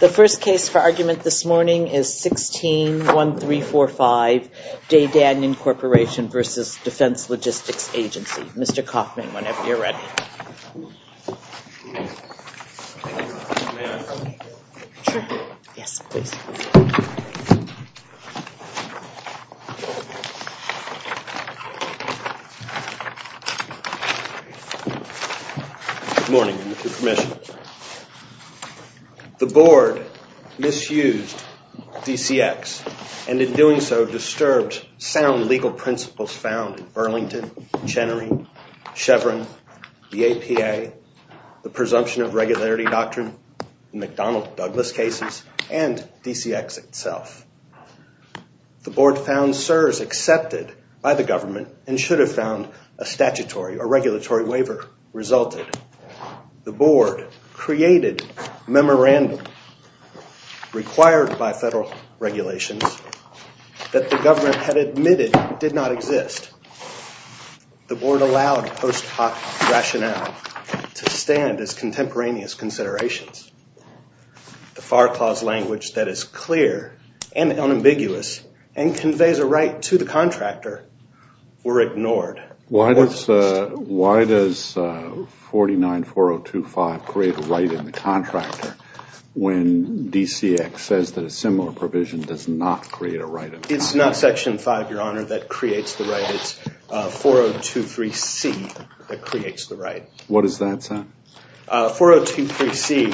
The first case for argument this morning is 16-1345 Daydanyon Corporation v. Defense Logistics Agency. Mr. Kaufman, whenever you're ready. Good morning, Mr. Commissioner. The board misused DCX and in doing so disturbed sound legal principles found in Burlington, Chenery, Chevron, the APA, the presumption of regularity doctrine, the McDonnell Douglas cases, and DCX itself. The board found CSRS accepted by the government and should have found a statutory or regulatory waiver resulted. The government had admitted it did not exist. The board allowed post hoc rationale to stand as contemporaneous considerations. The FAR clause language that is clear and unambiguous and conveys a right to the contractor were ignored. Why does 49-4025 create a right in contractor when DCX says that a similar provision does not create a right? It's not section five, your honor, that creates the right. It's 4023C that creates the right. What does that say? 4023C,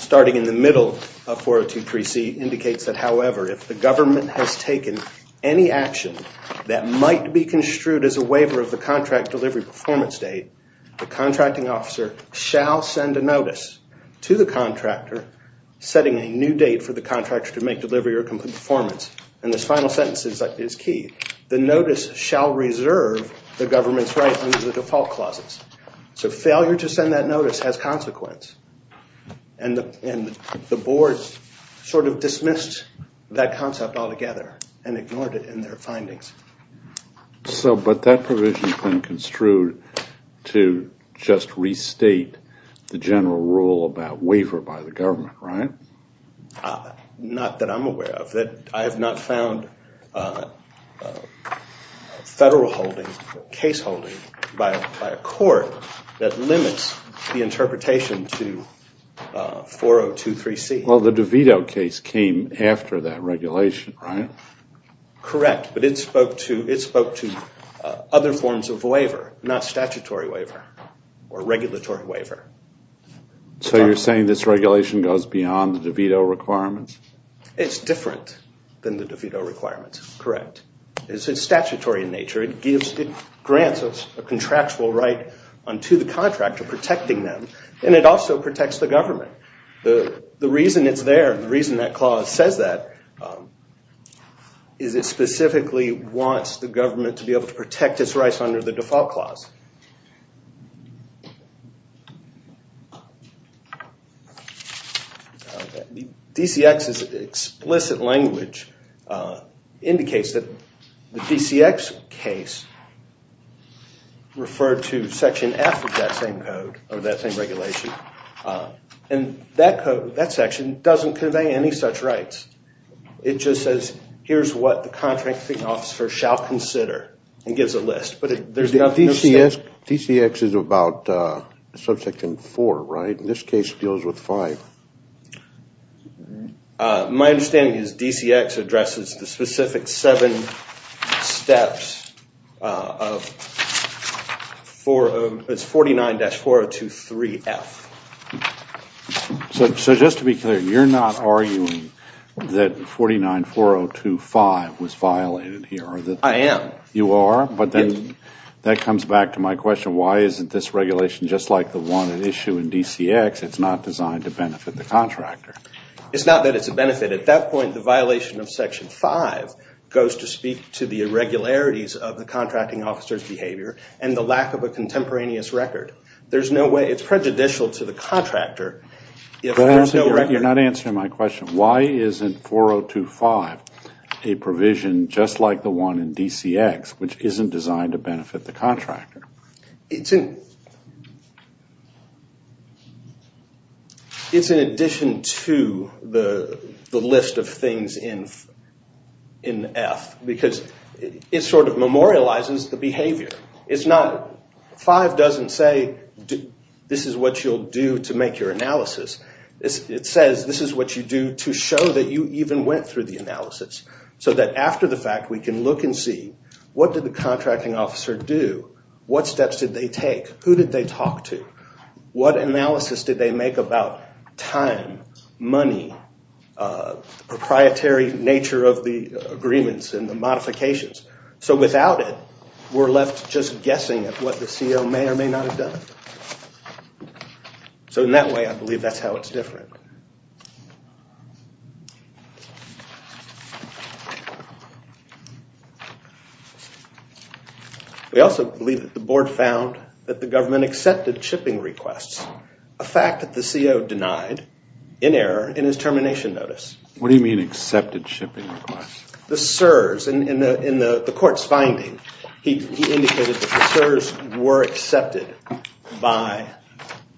starting in the middle of 4023C indicates that, however, if the government has taken any action that might be construed as a waiver of the contract delivery performance date, the contracting officer shall send a notice to the contractor setting a new date for the contractor to make delivery or performance. And this final sentence is key. The notice shall reserve the government's right under the default clauses. So failure to send that together and ignored it in their findings. But that provision has been construed to just restate the general rule about waiver by the government, right? Not that I'm aware of. I have not found federal case holding by a court that limits the interpretation to 4023C. Well, the DeVito case came after that regulation, right? Correct. But it spoke to other forms of waiver, not statutory waiver or regulatory waiver. So you're saying this regulation goes beyond the DeVito requirements? It's different than the DeVito requirements. Correct. It's statutory in nature. It grants us a contractual right unto the contractor protecting them. And it also protects the The reason it's there, the reason that clause says that is it specifically wants the government to be able to protect its rights under the default clause. DCX's explicit language indicates that the DCX case referred to Section F of that same regulation. And that section doesn't convey any such rights. It just says, here's what the contracting officer shall consider. It gives a list. But there's nothing... DCX is about Subsection 4, right? This case deals with 5. My understanding is DCX addresses the specific seven steps of 49-4023F. So just to be clear, you're not arguing that 49-4025 was violated here? I am. You are? But that comes back to my question, why isn't this regulation just like the one that issue in DCX, it's not designed to benefit the contractor? It's not that it's a benefit. At that point, the violation of Section 5 goes to speak to the irregularities of the contracting officer's behavior and the lack of a contemporaneous record. There's no way... It's prejudicial to the contractor if there's no record. You're not answering my question. Why isn't 4025 a provision just like the one in DCX which isn't designed to benefit the contractor? It's in addition to the list of things in F, because it sort of memorializes the behavior. It's not... 5 doesn't say, this is what you'll do to make your analysis. It says, this is what you do to show that you even went through the analysis. So that after the fact, we can look and see, what did the contracting officer do? What steps did they take? Who did they talk to? What analysis did they make about time, money, proprietary nature of the agreements and the modifications? So without it, we're left just guessing at what the CO may or may not have done. So in that way, I believe that's how it's different. We also believe that the board found that the government accepted shipping requests, a fact that the CO denied in error in his termination notice. What do you mean, accepted shipping requests? The CSRS, in the court's finding, he indicated that the CSRS were accepted by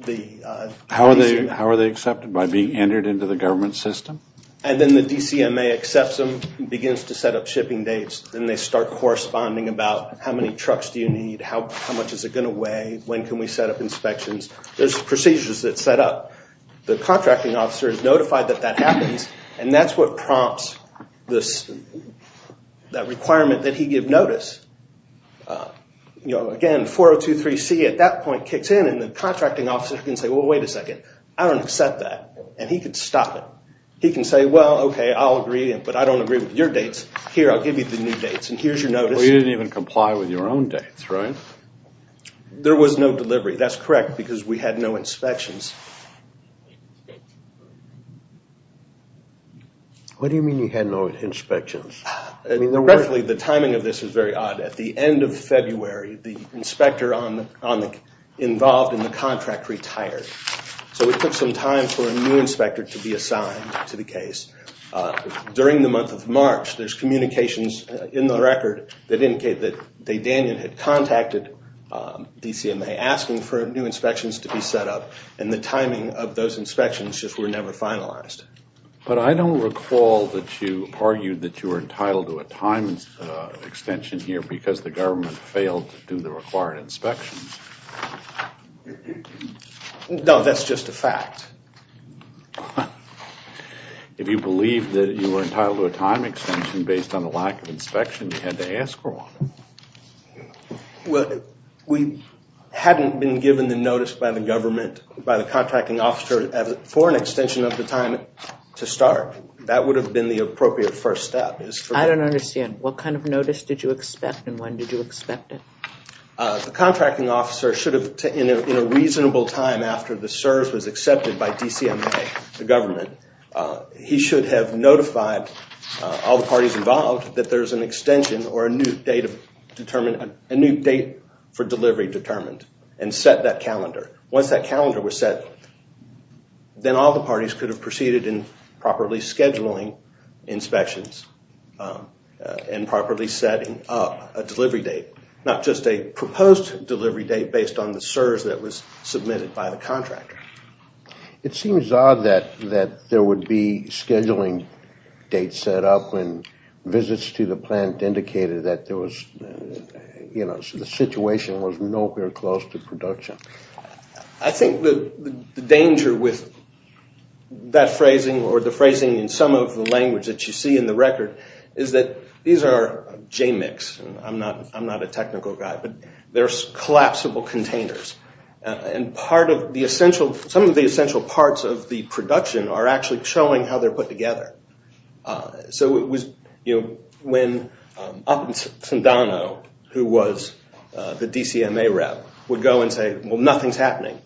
the DCMA. How are they accepted? By being entered into the government system? And then the DCMA accepts them, begins to set up shipping dates, and they start corresponding about how many trucks do you need? How much is it going to weigh? When can we set up inspections? There's procedures that set up. The contracting officer is notified that that happens, and that's what prompts that requirement that he give notice. You know, again, 4023C at that point kicks in, and the contracting officer can say, well, wait a second. I don't accept that, and he could stop it. He can say, well, okay, I'll agree, but I don't agree with your dates. Here, I'll give you the new dates, and here's your notice. You didn't even comply with your own dates, right? There was no delivery. That's correct, because we had no inspections. What do you mean you had no inspections? Roughly, the timing of this is very odd. At the end of February, the inspector involved in the contract retired, so it took some time for a new inspector to be assigned to the case. During the month of March, there's communications in the record that timing of those inspections just were never finalized. But I don't recall that you argued that you were entitled to a time extension here because the government failed to do the required inspections. No, that's just a fact. If you believe that you were entitled to a time extension based on a lack of inspection, you had to ask for one. Well, we hadn't been given the notice by the contracting officer for an extension of the time to start. That would have been the appropriate first step. I don't understand. What kind of notice did you expect, and when did you expect it? The contracting officer should have, in a reasonable time after the CERS was accepted by DCMA, the government, he should have notified all the parties involved that there's an extension or a new date for delivery determined and set that calendar. Once that calendar was set, then all the parties could have proceeded in properly scheduling inspections and properly setting up a delivery date, not just a proposed delivery date based on the CERS that was submitted by the contractor. It seems odd that there would be scheduling dates set up when visits to the plant indicated that the situation was nowhere close to production. I think the danger with that phrasing or the phrasing in some of the language that you see in the record is that these are JMICs. I'm not a technical guy, but they're collapsible containers. Some of the essential parts of the production are actually showing how they're put together. So it was, you know, when Upendano, who was the DCMA rep, would go and say, well, nothing's happening.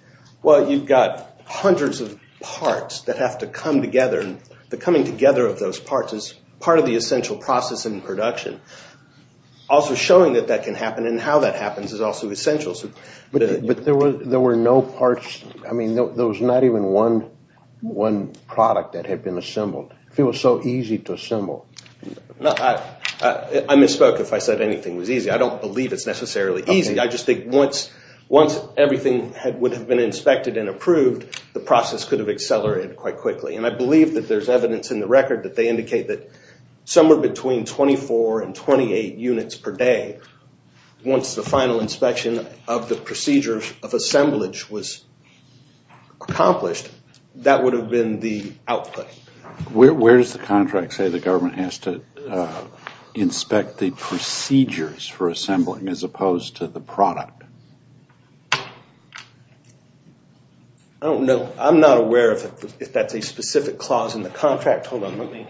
Well, you've got hundreds of parts that have to come together, and the coming together of those parts is part of the essential process in production. Also showing that that can happen and how that happens is also essential. But there were no parts, I mean, there was not even one product that had been assembled. It was so easy to assemble. I misspoke if I said anything was easy. I don't believe it's necessarily easy. I just think once everything would have been inspected and approved, the process could have accelerated quite quickly, and I believe that there's evidence in the record that they indicate that somewhere between 24 and 25 percent of the work that was accomplished, that would have been the output. Where does the contract say the government has to inspect the procedures for assembling as opposed to the product? I don't know. I'm not aware of if that's a specific clause in the contract. Hold on, let me...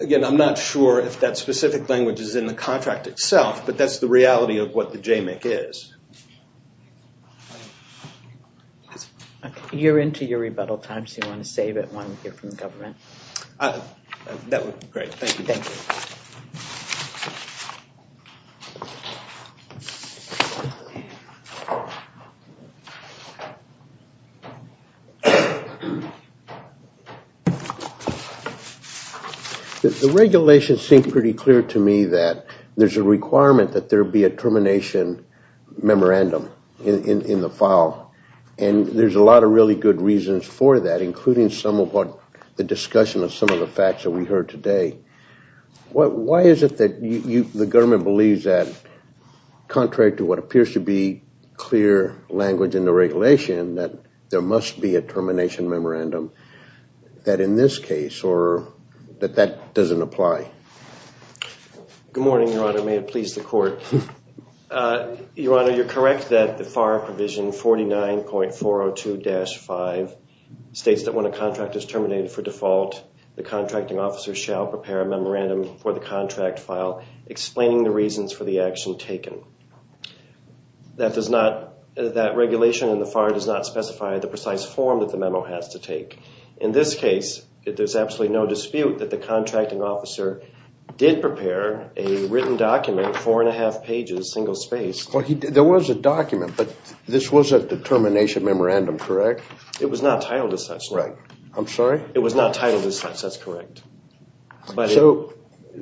Again, I'm not sure if that specific language is in the contract itself, but that's the reality of what the JMIC is. You're into your rebuttal time, so you want to save it while we hear from the government. That would be great. Thank you. Thank you. The regulations seem pretty clear to me that there's a requirement that there be a termination memorandum in the file, and there's a lot of really good reasons for that, including some of what the discussion of some of the facts that we heard today. Why is it that the government believes that, contrary to what appears to be clear language in the regulation, that there must be a termination memorandum that in this case, or that that doesn't apply? Good morning, Your Honor. May it please the court. Your Honor, you're correct that the FAR provision 49.402-5 states that when a contract is terminated for default, the contracting officer shall prepare a memorandum for the contract file explaining the reasons for the action taken. That regulation in the FAR does not specify the precise form that the memo has to take. In this case, there's absolutely no dispute that the contracting officer did prepare a written document, four-and-a-half pages, single-spaced. There was a document, but this was a termination memorandum, correct? It was not titled as such. Right. I'm sorry? It was not titled as such. That's correct.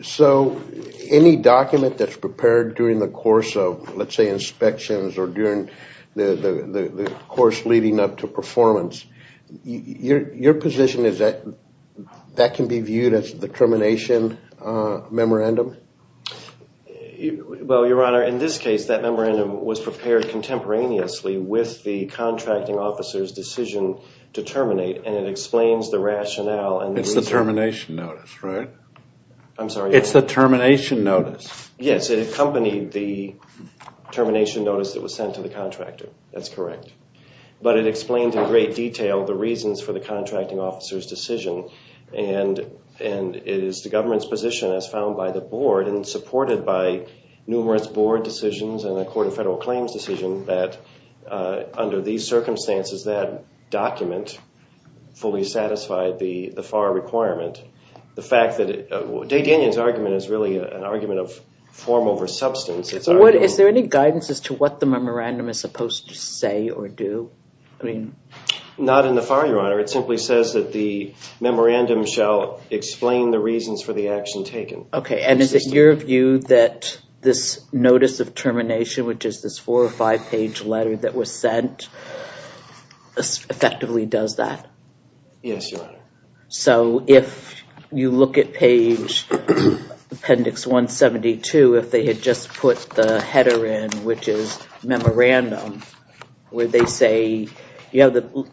So any document that's prepared during the course of, let's say, inspections or during the course leading up to performance, your position is that that can be viewed as the termination memorandum? Well, Your Honor, in this case, that memorandum was prepared contemporaneously with the contracting officer's decision to terminate, and it explains the rationale and the reason. It's the termination notice, right? I'm sorry? It's the termination notice. Yes, it accompanied the termination notice that was sent to the contractor. That's correct. But it explained in great detail the reasons for the contracting officer's decision, and it is the government's position, as found by the board and supported by numerous board decisions and the Court of Federal Claims decision, that under these circumstances, that document fully satisfied the FAR requirement. The fact that – Day-Daniel's argument is really an argument of form over substance. Is there any guidance as to what the memorandum is supposed to say or do? Not in the FAR, Your Honor. It simply says that the memorandum shall explain the reasons for the action taken. Okay, and is it your view that this notice of termination, which is this four- or five-page letter that was sent, effectively does that? Yes, Your Honor. So if you look at page appendix 172, if they had just put the header in, which is memorandum, where they say – you know, the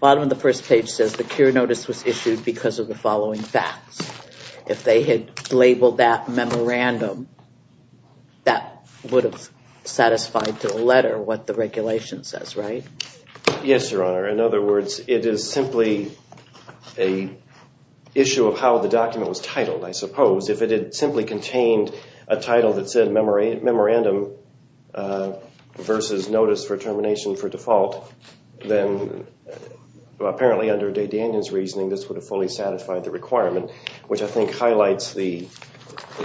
bottom of the first page says the cure notice was issued because of the following facts. If they had labeled that memorandum, that would have satisfied the letter what the regulation says, right? Yes, Your Honor. In other words, it is simply an issue of how the document was titled, I suppose. If it had simply contained a title that said memorandum versus notice for termination for default, then apparently under Day-Danion's reasoning, this would have fully satisfied the requirement, which I think highlights the,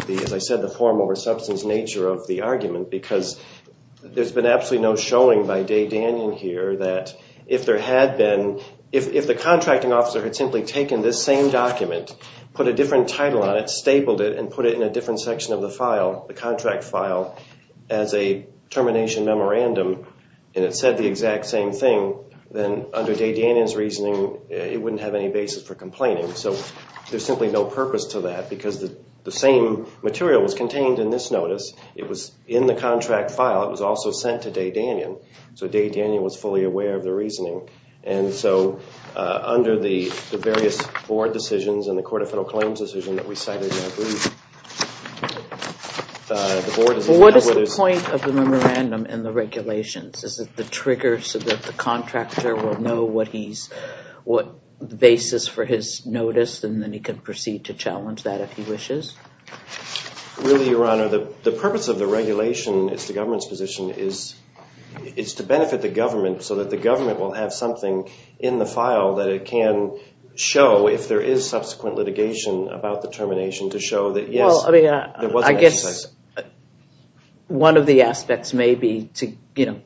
as I said, the form over substance nature of the argument because there's been absolutely no showing by Day-Danion here that if there had been – if the contracting officer had simply taken this same document, put a different title on it, stapled it, and put it in a different section of the file, the contract file, as a termination memorandum, and it said the exact same thing, then under Day-Danion's reasoning, it wouldn't have any basis for complaining. So there's simply no purpose to that because the same material was contained in this notice. It was in the contract file. It was also sent to Day-Danion, so Day-Danion was fully aware of the reasoning. And so under the various board decisions and the Court of Federal Claims decision that we cited in our brief, the board is – Well, what is the point of the memorandum and the regulations? Is it the trigger so that the contractor will know what he's – what basis for his notice, and then he can proceed to challenge that if he wishes? Really, Your Honor, the purpose of the regulation, it's the government's position, is to benefit the government so that the government will have something in the file that it can show if there is subsequent litigation about the termination to show that, yes, there was an excess. Well, I mean, I guess one of the aspects may be to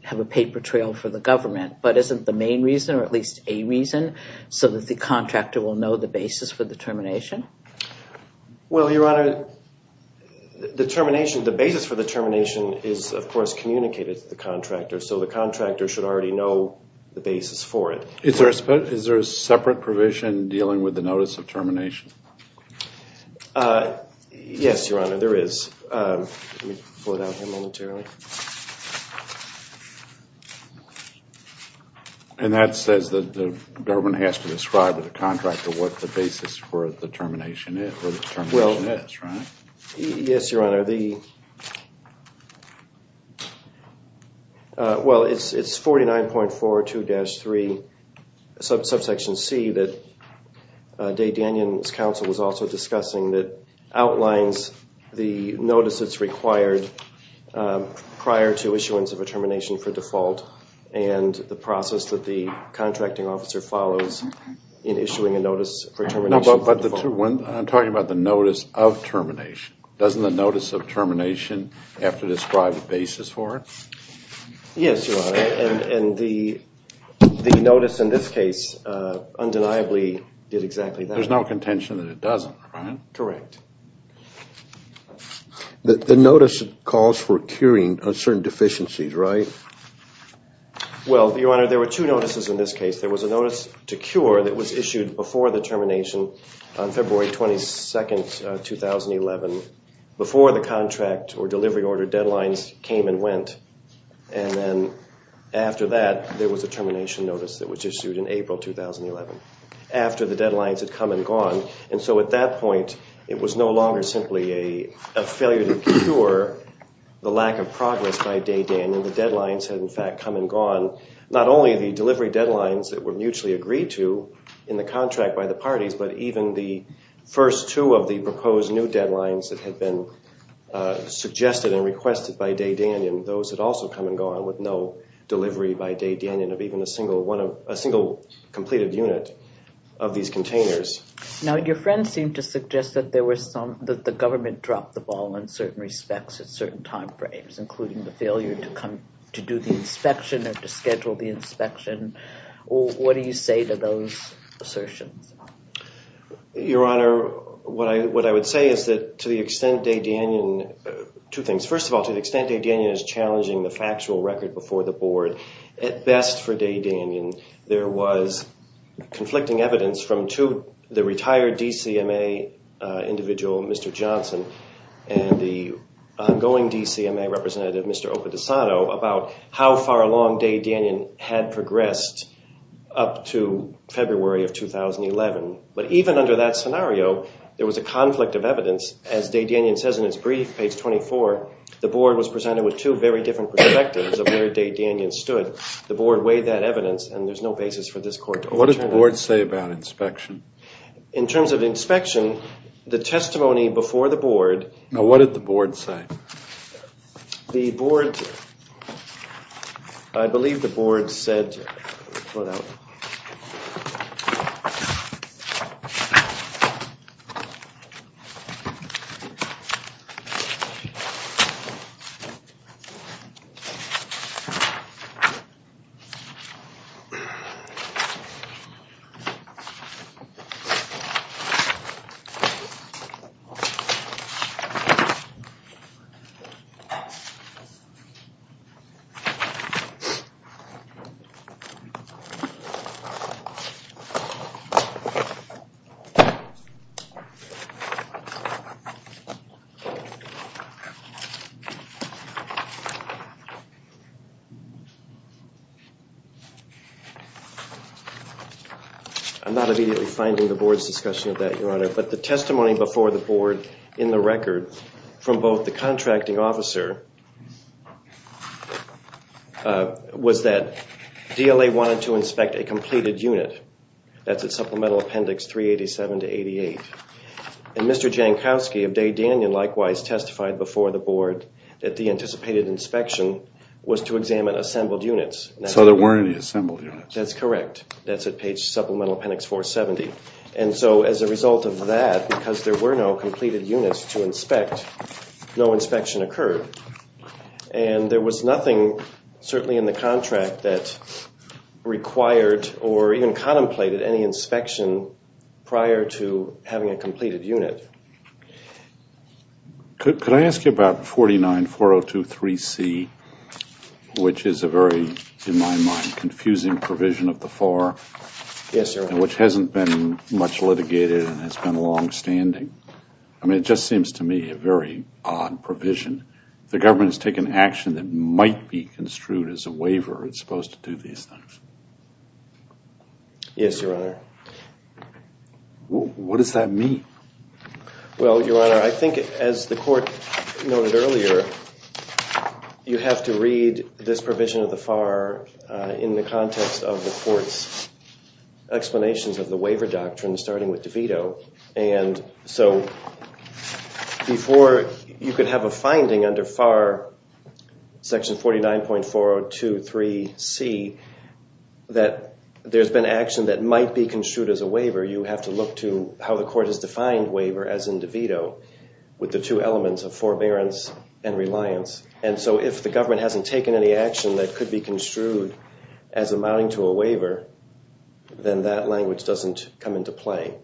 have a paper trail for the government, but isn't the main reason, or at least a reason, so that the contractor will know the basis for the termination? Well, Your Honor, the termination – the basis for the termination is, of course, communicated to the contractor, so the contractor should already know the basis for it. Is there a separate provision dealing with the notice of termination? Yes, Your Honor, there is. Let me pull it out here momentarily. And that says that the government has to describe to the contractor what the basis for the termination is, or the termination is, right? Yes, Your Honor. Well, it's 49.42-3, subsection C, that Day-Danion's counsel was also discussing that outlines the notice that's required prior to issuance of a termination for default and the process that the contracting officer follows in issuing a notice for termination. I'm talking about the notice of termination. Doesn't the notice of termination have to describe the basis for it? Yes, Your Honor, and the notice in this case undeniably did exactly that. There's no contention that it doesn't, right? Correct. The notice calls for curing of certain deficiencies, right? Well, Your Honor, there were two notices in this case. There was a notice to cure that was issued before the termination on February 22, 2011, before the contract or delivery order deadlines came and went. And then after that, there was a termination notice that was issued in April 2011, after the deadlines had come and gone. And so at that point, it was no longer simply a failure to cure the lack of progress by Day-Danion. The deadlines had, in fact, come and gone. Not only the delivery deadlines that were mutually agreed to in the contract by the parties, but even the first two of the proposed new deadlines that had been suggested and requested by Day-Danion, those had also come and gone with no delivery by Day-Danion of even a single completed unit of these containers. Now, your friend seemed to suggest that the government dropped the ball in certain respects at certain time frames, including the failure to do the inspection or to schedule the inspection. What do you say to those assertions? Your Honor, what I would say is that to the extent Day-Danion – two things. First of all, to the extent Day-Danion is challenging the factual record before the board, at best for Day-Danion, there was conflicting evidence from the retired DCMA individual, Mr. Johnson, and the ongoing DCMA representative, Mr. Opadesano, about how far along Day-Danion had progressed up to February of 2011. But even under that scenario, there was a conflict of evidence. As Day-Danion says in its brief, page 24, the board was presented with two very different perspectives of where Day-Danion stood. The board weighed that evidence, and there's no basis for this court to overturn it. What does the board say about inspection? In terms of inspection, the testimony before the board – Now, what did the board say? The board – I believe the board said – hold on. Hold on. I'm not immediately finding the board's discussion of that, Your Honor. But the testimony before the board in the record from both the contracting officer was that DLA wanted to inspect a completed unit. That's at Supplemental Appendix 387 to 88. And Mr. Jankowski of Day-Danion likewise testified before the board that the anticipated inspection was to examine assembled units. So there weren't any assembled units. That's correct. That's at page Supplemental Appendix 470. And so as a result of that, because there were no completed units to inspect, no inspection occurred. And there was nothing, certainly in the contract, that required or even contemplated any inspection prior to having a completed unit. Could I ask you about 49-4023C, which is a very, in my mind, confusing provision of the FAR? Yes, Your Honor. Which hasn't been much litigated and has been longstanding. I mean, it just seems to me a very odd provision. The government has taken action that might be construed as a waiver. It's supposed to do these things. Yes, Your Honor. What does that mean? Well, Your Honor, I think as the court noted earlier, you have to read this provision of the FAR in the context of the court's explanations of the waiver doctrine, starting with DeVito. And so before you could have a finding under FAR, Section 49.4023C, that there's been action that might be construed as a waiver. You have to look to how the court has defined waiver as in DeVito with the two elements of forbearance and reliance. And so if the government hasn't taken any action that could be construed as amounting to a waiver, then that language doesn't come into play.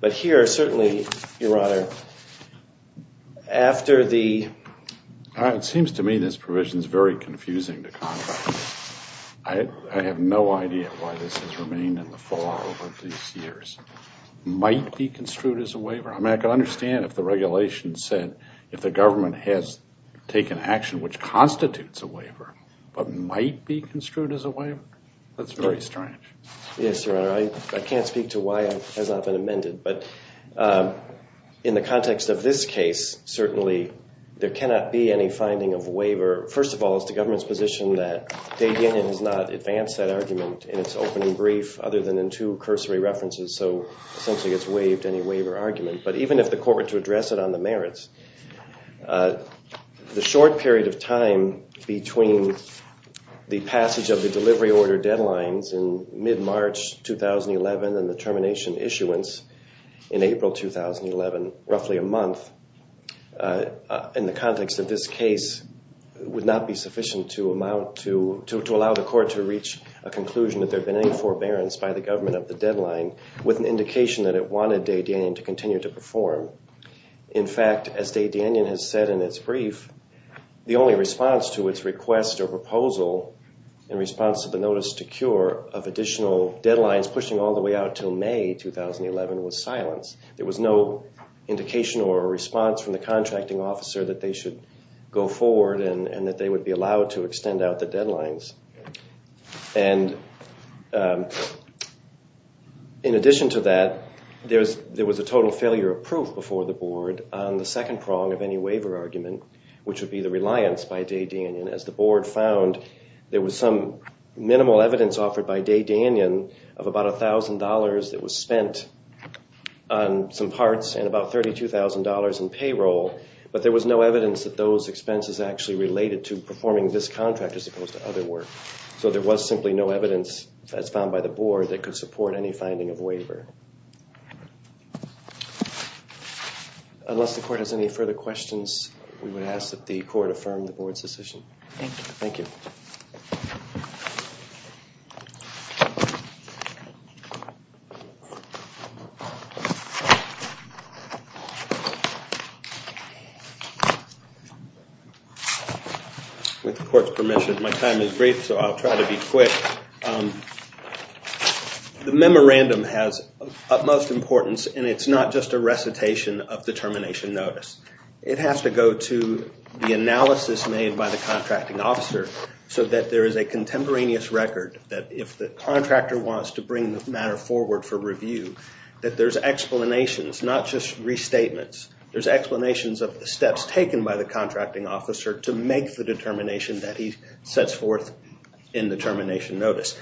But here, certainly, Your Honor, after the... It seems to me this provision is very confusing to conduct. I have no idea why this has remained in the FAR over these years. Might be construed as a waiver. I mean, I can understand if the regulation said if the government has taken action which constitutes a waiver, but might be construed as a waiver. That's very strange. Yes, Your Honor. I can't speak to why it has not been amended. But in the context of this case, certainly, there cannot be any finding of a waiver. First of all, it's the government's position that DeVita has not advanced that argument in its opening brief other than in two cursory references. So, essentially, it's waived any waiver argument. But even if the court were to address it on the merits, the short period of time between the passage of the delivery order deadlines in mid-March 2011 and the termination issuance in April 2011, roughly a month, in the context of this case, would not be sufficient to allow the court to reach a conclusion that there had been any forbearance by the government of the deadline, with an indication that it wanted de Danian to continue to perform. In fact, as de Danian has said in its brief, the only response to its request or proposal in response to the notice to cure of additional deadlines pushing all the way out until May 2011 was silence. There was no indication or response from the contracting officer that they should go forward and that they would be allowed to extend out the deadlines. And in addition to that, there was a total failure of proof before the board on the second prong of any waiver argument, which would be the reliance by de Danian. And as the board found, there was some minimal evidence offered by de Danian of about $1,000 that was spent on some parts and about $32,000 in payroll. But there was no evidence that those expenses actually related to performing this contract as opposed to other work. So there was simply no evidence, as found by the board, that could support any finding of waiver. Unless the court has any further questions, we would ask that the court affirm the board's decision. Thank you. Thank you. With the court's permission, my time is brief, so I'll try to be quick. The memorandum has utmost importance, and it's not just a recitation of the termination notice. It has to go to the analysis made by the contracting officer so that there is a contemporaneous record that if the contractor wants to bring the matter forward for review, that there's explanations, not just restatements. There's explanations of the steps taken by the contracting officer to make the determination that he sets forth in the termination notice.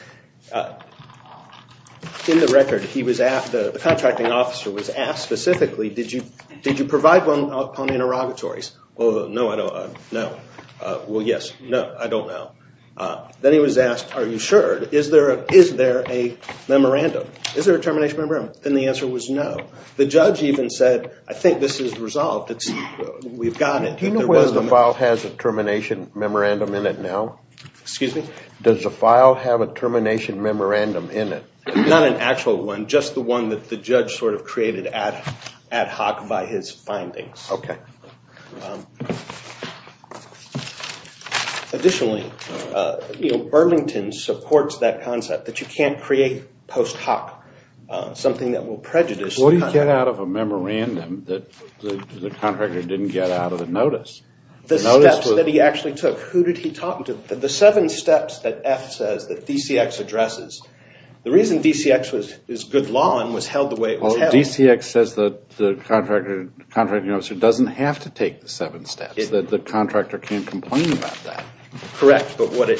In the record, the contracting officer was asked specifically, did you provide one upon interrogatories? No, I don't know. Well, yes. No, I don't know. Then he was asked, are you sure? Is there a memorandum? Is there a termination memorandum? And the answer was no. The judge even said, I think this is resolved. We've got it. Do you know whether the file has a termination memorandum in it now? Excuse me? Does the file have a termination memorandum in it? Not an actual one, just the one that the judge sort of created ad hoc by his findings. Okay. Additionally, Burlington supports that concept that you can't create post hoc, something that will prejudice. What do you get out of a memorandum that the contractor didn't get out of the notice? The steps that he actually took. Who did he talk to? The seven steps that F says that DCX addresses. The reason DCX is good law and was held the way it was held. DCX says that the contracting officer doesn't have to take the seven steps, that the contractor can't complain about that. Correct. But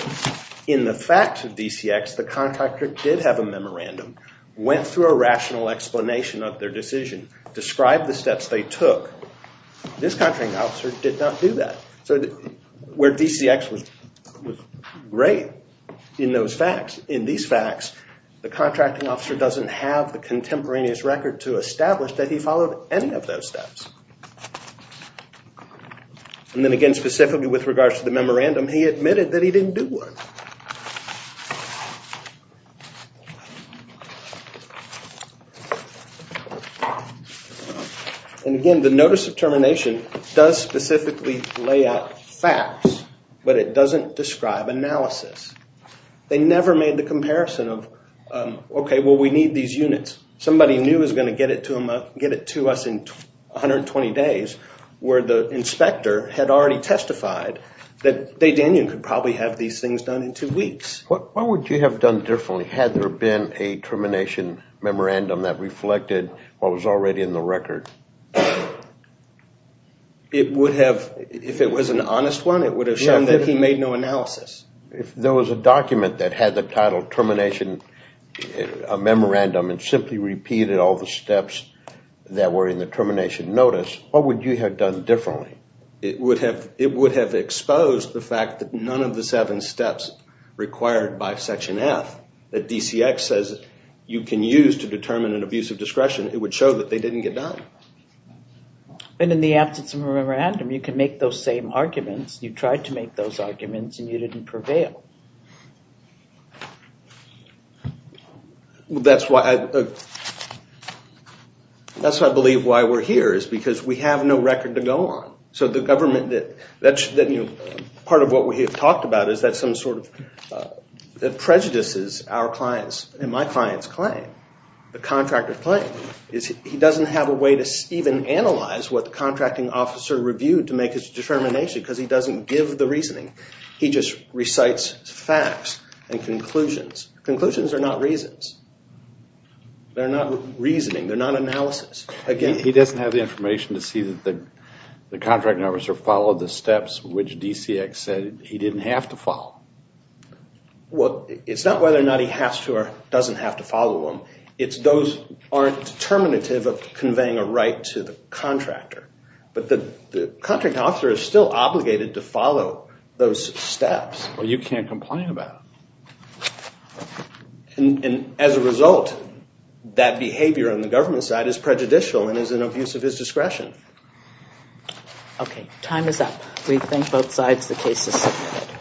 in the facts of DCX, the contractor did have a memorandum, went through a rational explanation of their decision, described the steps they took. This contracting officer did not do that. So where DCX was great in those facts, in these facts, the contracting officer doesn't have the contemporaneous record to establish that he followed any of those steps. And then again, specifically with regards to the memorandum, he admitted that he didn't do one. And again, the notice of termination does specifically lay out facts, but it doesn't describe analysis. They never made the comparison of, okay, well, we need these units. Somebody new is going to get it to us in 120 days, where the inspector had already testified that Day-Daniel could probably have these things done in two weeks. Why would you have done differently? Had there been a termination memorandum that reflected what was already in the record? It would have, if it was an honest one, it would have shown that he made no analysis. If there was a document that had the title termination, a memorandum, and simply repeated all the steps that were in the termination notice, what would you have done differently? It would have exposed the fact that none of the seven steps required by Section F that DCX says you can use to determine an abuse of discretion. It would show that they didn't get done. And in the absence of a memorandum, you can make those same arguments. You tried to make those arguments, and you didn't prevail. That's why I believe why we're here, is because we have no record to go on. So the government, part of what we have talked about is that some sort of prejudices our clients and my clients claim. The contractor's claim is he doesn't have a way to even analyze what the contracting officer reviewed to make his determination because he doesn't give the reasoning. He just recites facts and conclusions. Conclusions are not reasons. They're not reasoning. They're not analysis. He doesn't have the information to see that the contracting officer followed the steps which DCX said he didn't have to follow. Well, it's not whether or not he has to or doesn't have to follow them. Those aren't determinative of conveying a right to the contractor. But the contracting officer is still obligated to follow those steps. Well, you can't complain about it. And as a result, that behavior on the government side is prejudicial and is an abuse of his discretion. Okay. Time is up. We thank both sides. The case is submitted.